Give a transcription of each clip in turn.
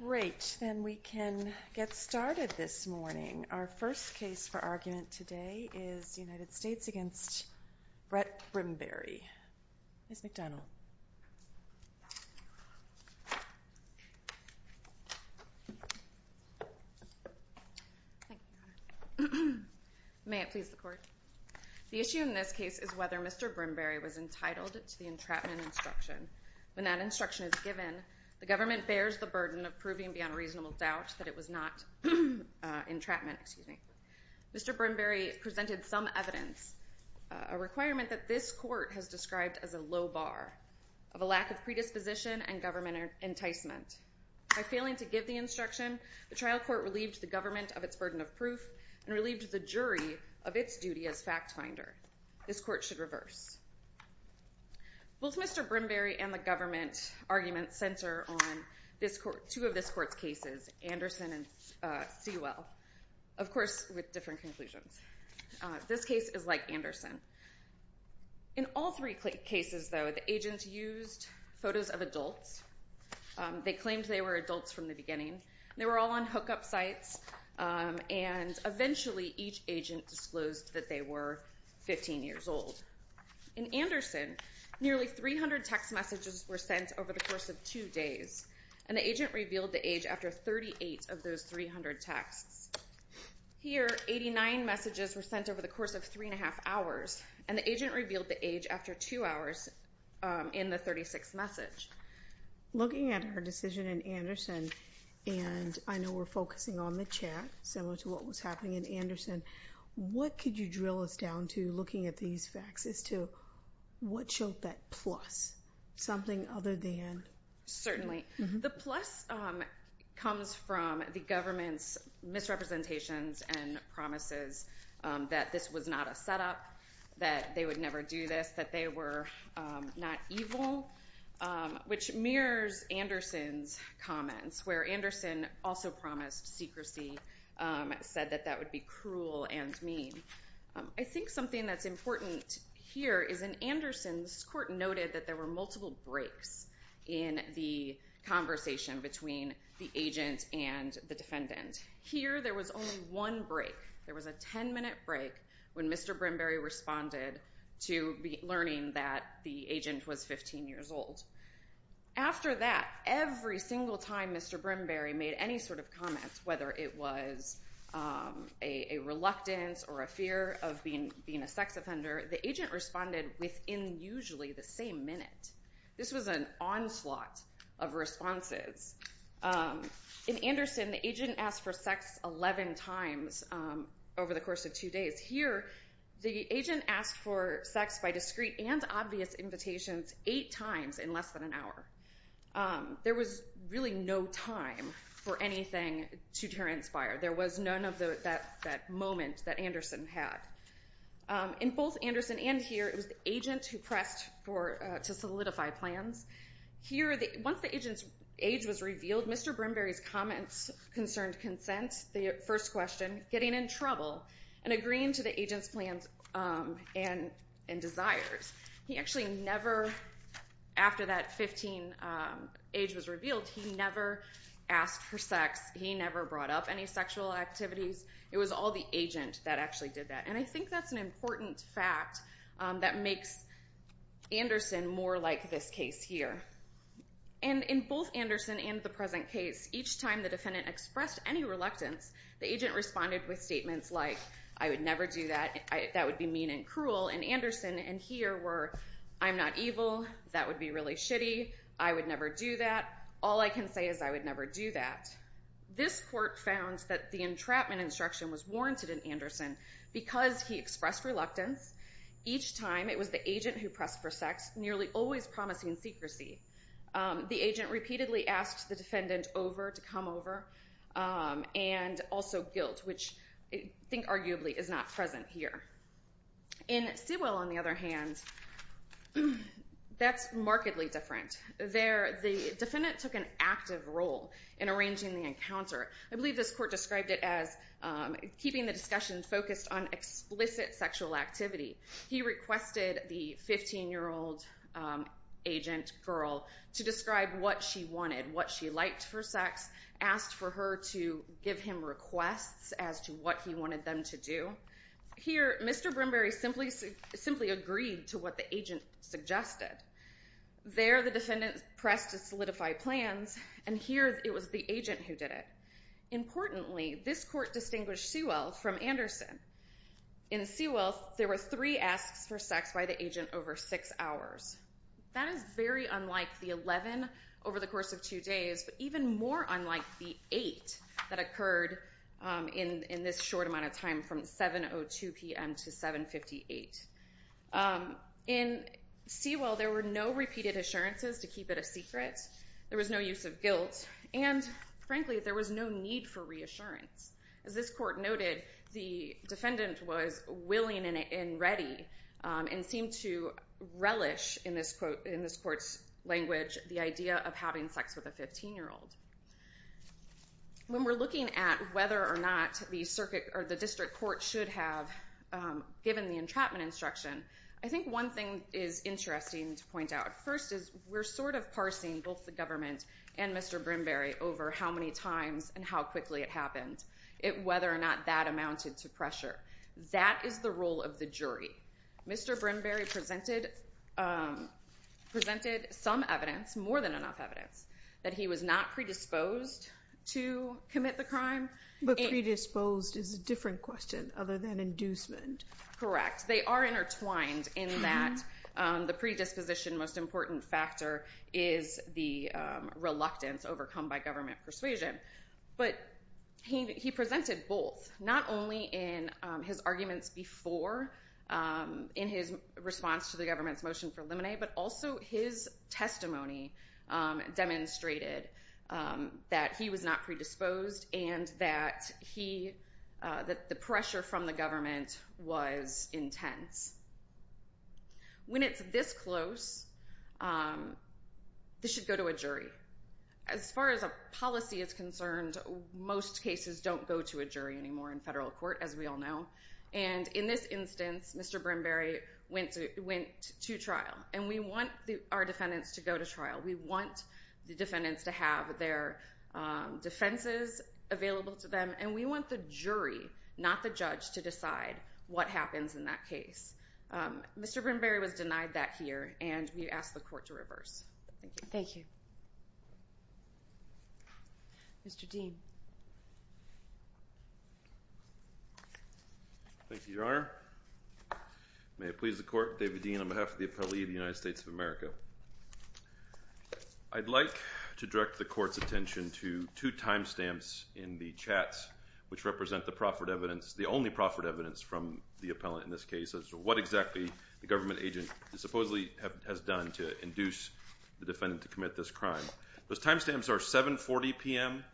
Great. Then we can get started this morning. Our first case for argument today is the United States v. Brett Brimberry. Ms. McDonald. May it please the Court. The issue in this case is whether Mr. Brimberry was entitled to the entrapment instruction. When that instruction is given, the government bears the burden of proving beyond reasonable doubt that it was not entrapment. Mr. Brimberry presented some evidence, a requirement that this Court has described as a low bar, of a lack of predisposition and government enticement. By failing to give the instruction, the trial court relieved the government of its burden of proof and relieved the jury of its duty as fact finder. This Court should reverse. Both Mr. Brimberry and the government argument center on two of this Court's cases, Anderson and Sewell. Of course, with different conclusions. This case is like Anderson. In all three cases, though, the agents used photos of adults. They claimed they were adults from the beginning. They were all on hookup sites, and eventually each agent disclosed that they were 15 years old. In Anderson, nearly 300 text messages were sent over the course of two days, and the agent revealed the age after 38 of those 300 texts. Here, 89 messages were sent over the course of three and a half hours, and the agent revealed the age after two hours in the 36th message. Looking at her decision in Anderson, and I know we're focusing on the chat, similar to what was happening in Anderson, what could you drill us down to looking at these facts as to what showed that plus, something other than? Certainly. The plus comes from the government's misrepresentations and promises that this was not a setup, that they would never do this, that they were not evil, which mirrors Anderson's comments, where Anderson also promised secrecy, said that that would be cruel and mean. I think something that's important here is in Anderson, this Court noted that there were multiple breaks in the conversation between the agent and the defendant. Here, there was only one break. There was a 10-minute break when Mr. Brimberry responded to learning that the agent was 15 years old. After that, every single time Mr. Brimberry made any sort of comment, whether it was a reluctance or a fear of being a sex offender, the agent responded within usually the same minute. This was an onslaught of responses. In Anderson, the agent asked for sex 11 times over the course of two days. Here, the agent asked for sex by discrete and obvious invitations eight times in less than an hour. There was really no time for anything to transpire. There was none of that moment that Anderson had. In both Anderson and here, it was the agent who pressed to solidify plans. Here, once the agent's age was revealed, Mr. Brimberry's comments concerned consent, the first question, getting in trouble, and agreeing to the agent's plans and desires. He actually never, after that 15 age was revealed, he never asked for sex. He never brought up any sexual activities. It was all the agent that actually did that. I think that's an important fact that makes Anderson more like this case here. In both Anderson and the present case, each time the defendant expressed any reluctance, the agent responded with statements like, I would never do that, that would be mean and cruel. In Anderson and here were, I'm not evil, that would be really shitty, I would never do that, all I can say is I would never do that. This court found that the entrapment instruction was warranted in Anderson because he expressed reluctance. Each time, it was the agent who pressed for sex, nearly always promising secrecy. The agent repeatedly asked the defendant over to come over, and also guilt, which I think arguably is not present here. In Sewell, on the other hand, that's markedly different. There, the defendant took an active role in arranging the encounter. I believe this court described it as keeping the discussion focused on explicit sexual activity. He requested the 15-year-old agent girl to describe what she wanted, what she liked for sex, asked for her to give him requests as to what he wanted them to do. Here, Mr. Brimberry simply agreed to what the agent suggested. There, the defendant pressed to solidify plans, and here it was the agent who did it. Importantly, this court distinguished Sewell from Anderson. In Sewell, there were three asks for sex by the agent over six hours. That is very unlike the 11 over the course of two days, but even more unlike the 8 that occurred in this short amount of time from 7.02 p.m. to 7.58. In Sewell, there were no repeated assurances to keep it a secret. There was no use of guilt, and frankly, there was no need for reassurance. As this court noted, the defendant was willing and ready and seemed to relish, in this court's language, the idea of having sex with a 15-year-old. When we're looking at whether or not the district court should have given the entrapment instruction, I think one thing is interesting to point out. First is we're sort of parsing both the government and Mr. Brimberry over how many times and how quickly it happened, whether or not that amounted to pressure. That is the role of the jury. Mr. Brimberry presented some evidence, more than enough evidence, that he was not predisposed to commit the crime. But predisposed is a different question other than inducement. Correct. They are intertwined in that the predisposition most important factor is the reluctance overcome by government persuasion. But he presented both, not only in his arguments before, in his response to the government's motion for limine, but also his testimony demonstrated that he was not predisposed and that the pressure from the government was intense. When it's this close, this should go to a jury. As far as a policy is concerned, most cases don't go to a jury anymore in federal court, as we all know. And in this instance, Mr. Brimberry went to trial, and we want our defendants to go to trial. We want the defendants to have their defenses available to them, and we want the jury, not the judge, to decide what happens in that case. Mr. Brimberry was denied that here, and we ask the court to reverse. Thank you. Thank you. Mr. Dean. Thank you, Your Honor. May it please the court, David Dean on behalf of the appellee of the United States of America. I'd like to direct the court's attention to two time stamps in the chat, which represent the proffered evidence, the only proffered evidence from the appellant in this case, as to what exactly the government agent supposedly has done to induce the defendant to commit this crime. Those time stamps are 7.40 p.m.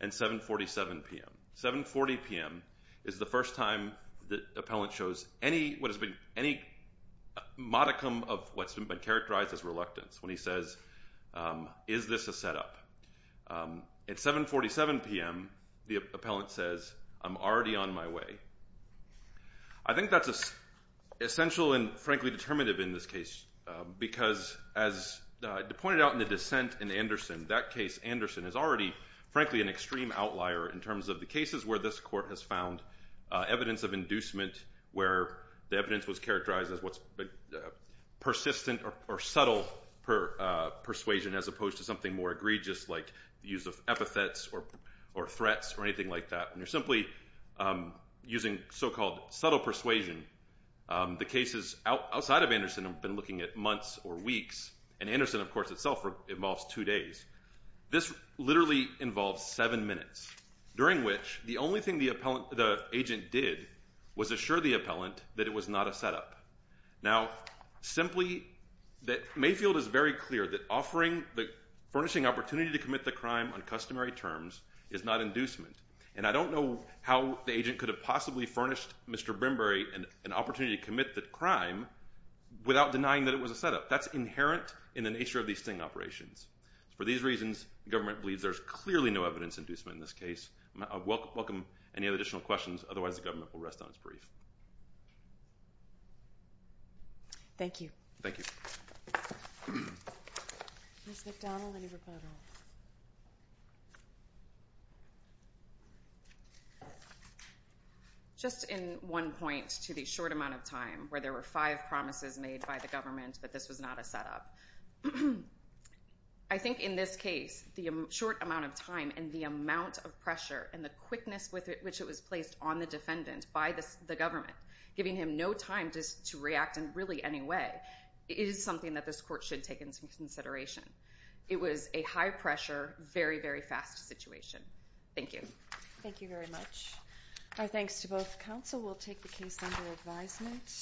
and 7.47 p.m. 7.40 p.m. is the first time the appellant shows any modicum of what's been characterized as reluctance, when he says, is this a setup? At 7.47 p.m., the appellant says, I'm already on my way. I think that's essential and, frankly, determinative in this case, because as pointed out in the dissent in Anderson, that case, Anderson, is already, frankly, an extreme outlier in terms of the cases where this court has found evidence of inducement, where the evidence was characterized as what's persistent or subtle persuasion, as opposed to something more egregious like the use of epithets or threats or anything like that. And you're simply using so-called subtle persuasion. The cases outside of Anderson have been looking at months or weeks. And Anderson, of course, itself involves two days. This literally involves seven minutes, during which the only thing the agent did was assure the appellant that it was not a setup. Now, simply, Mayfield is very clear that offering the furnishing opportunity to commit the crime on customary terms is not inducement. And I don't know how the agent could have possibly furnished Mr. Brimberry an opportunity to commit the crime without denying that it was a setup. That's inherent in the nature of these sting operations. For these reasons, the government believes there's clearly no evidence of inducement in this case. I welcome any additional questions. Otherwise, the government will rest on its brief. Thank you. Thank you. Ms. McDonald, any rebuttals? Just in one point to the short amount of time where there were five promises made by the government that this was not a setup. I think in this case, the short amount of time and the amount of pressure and the quickness with which it was placed on the defendant by the government, giving him no time to react in really any way, is something that this court should take into consideration. It was a high-pressure, very, very fast situation. Thank you. Thank you very much. Our thanks to both counsel. We'll take the case under advisement.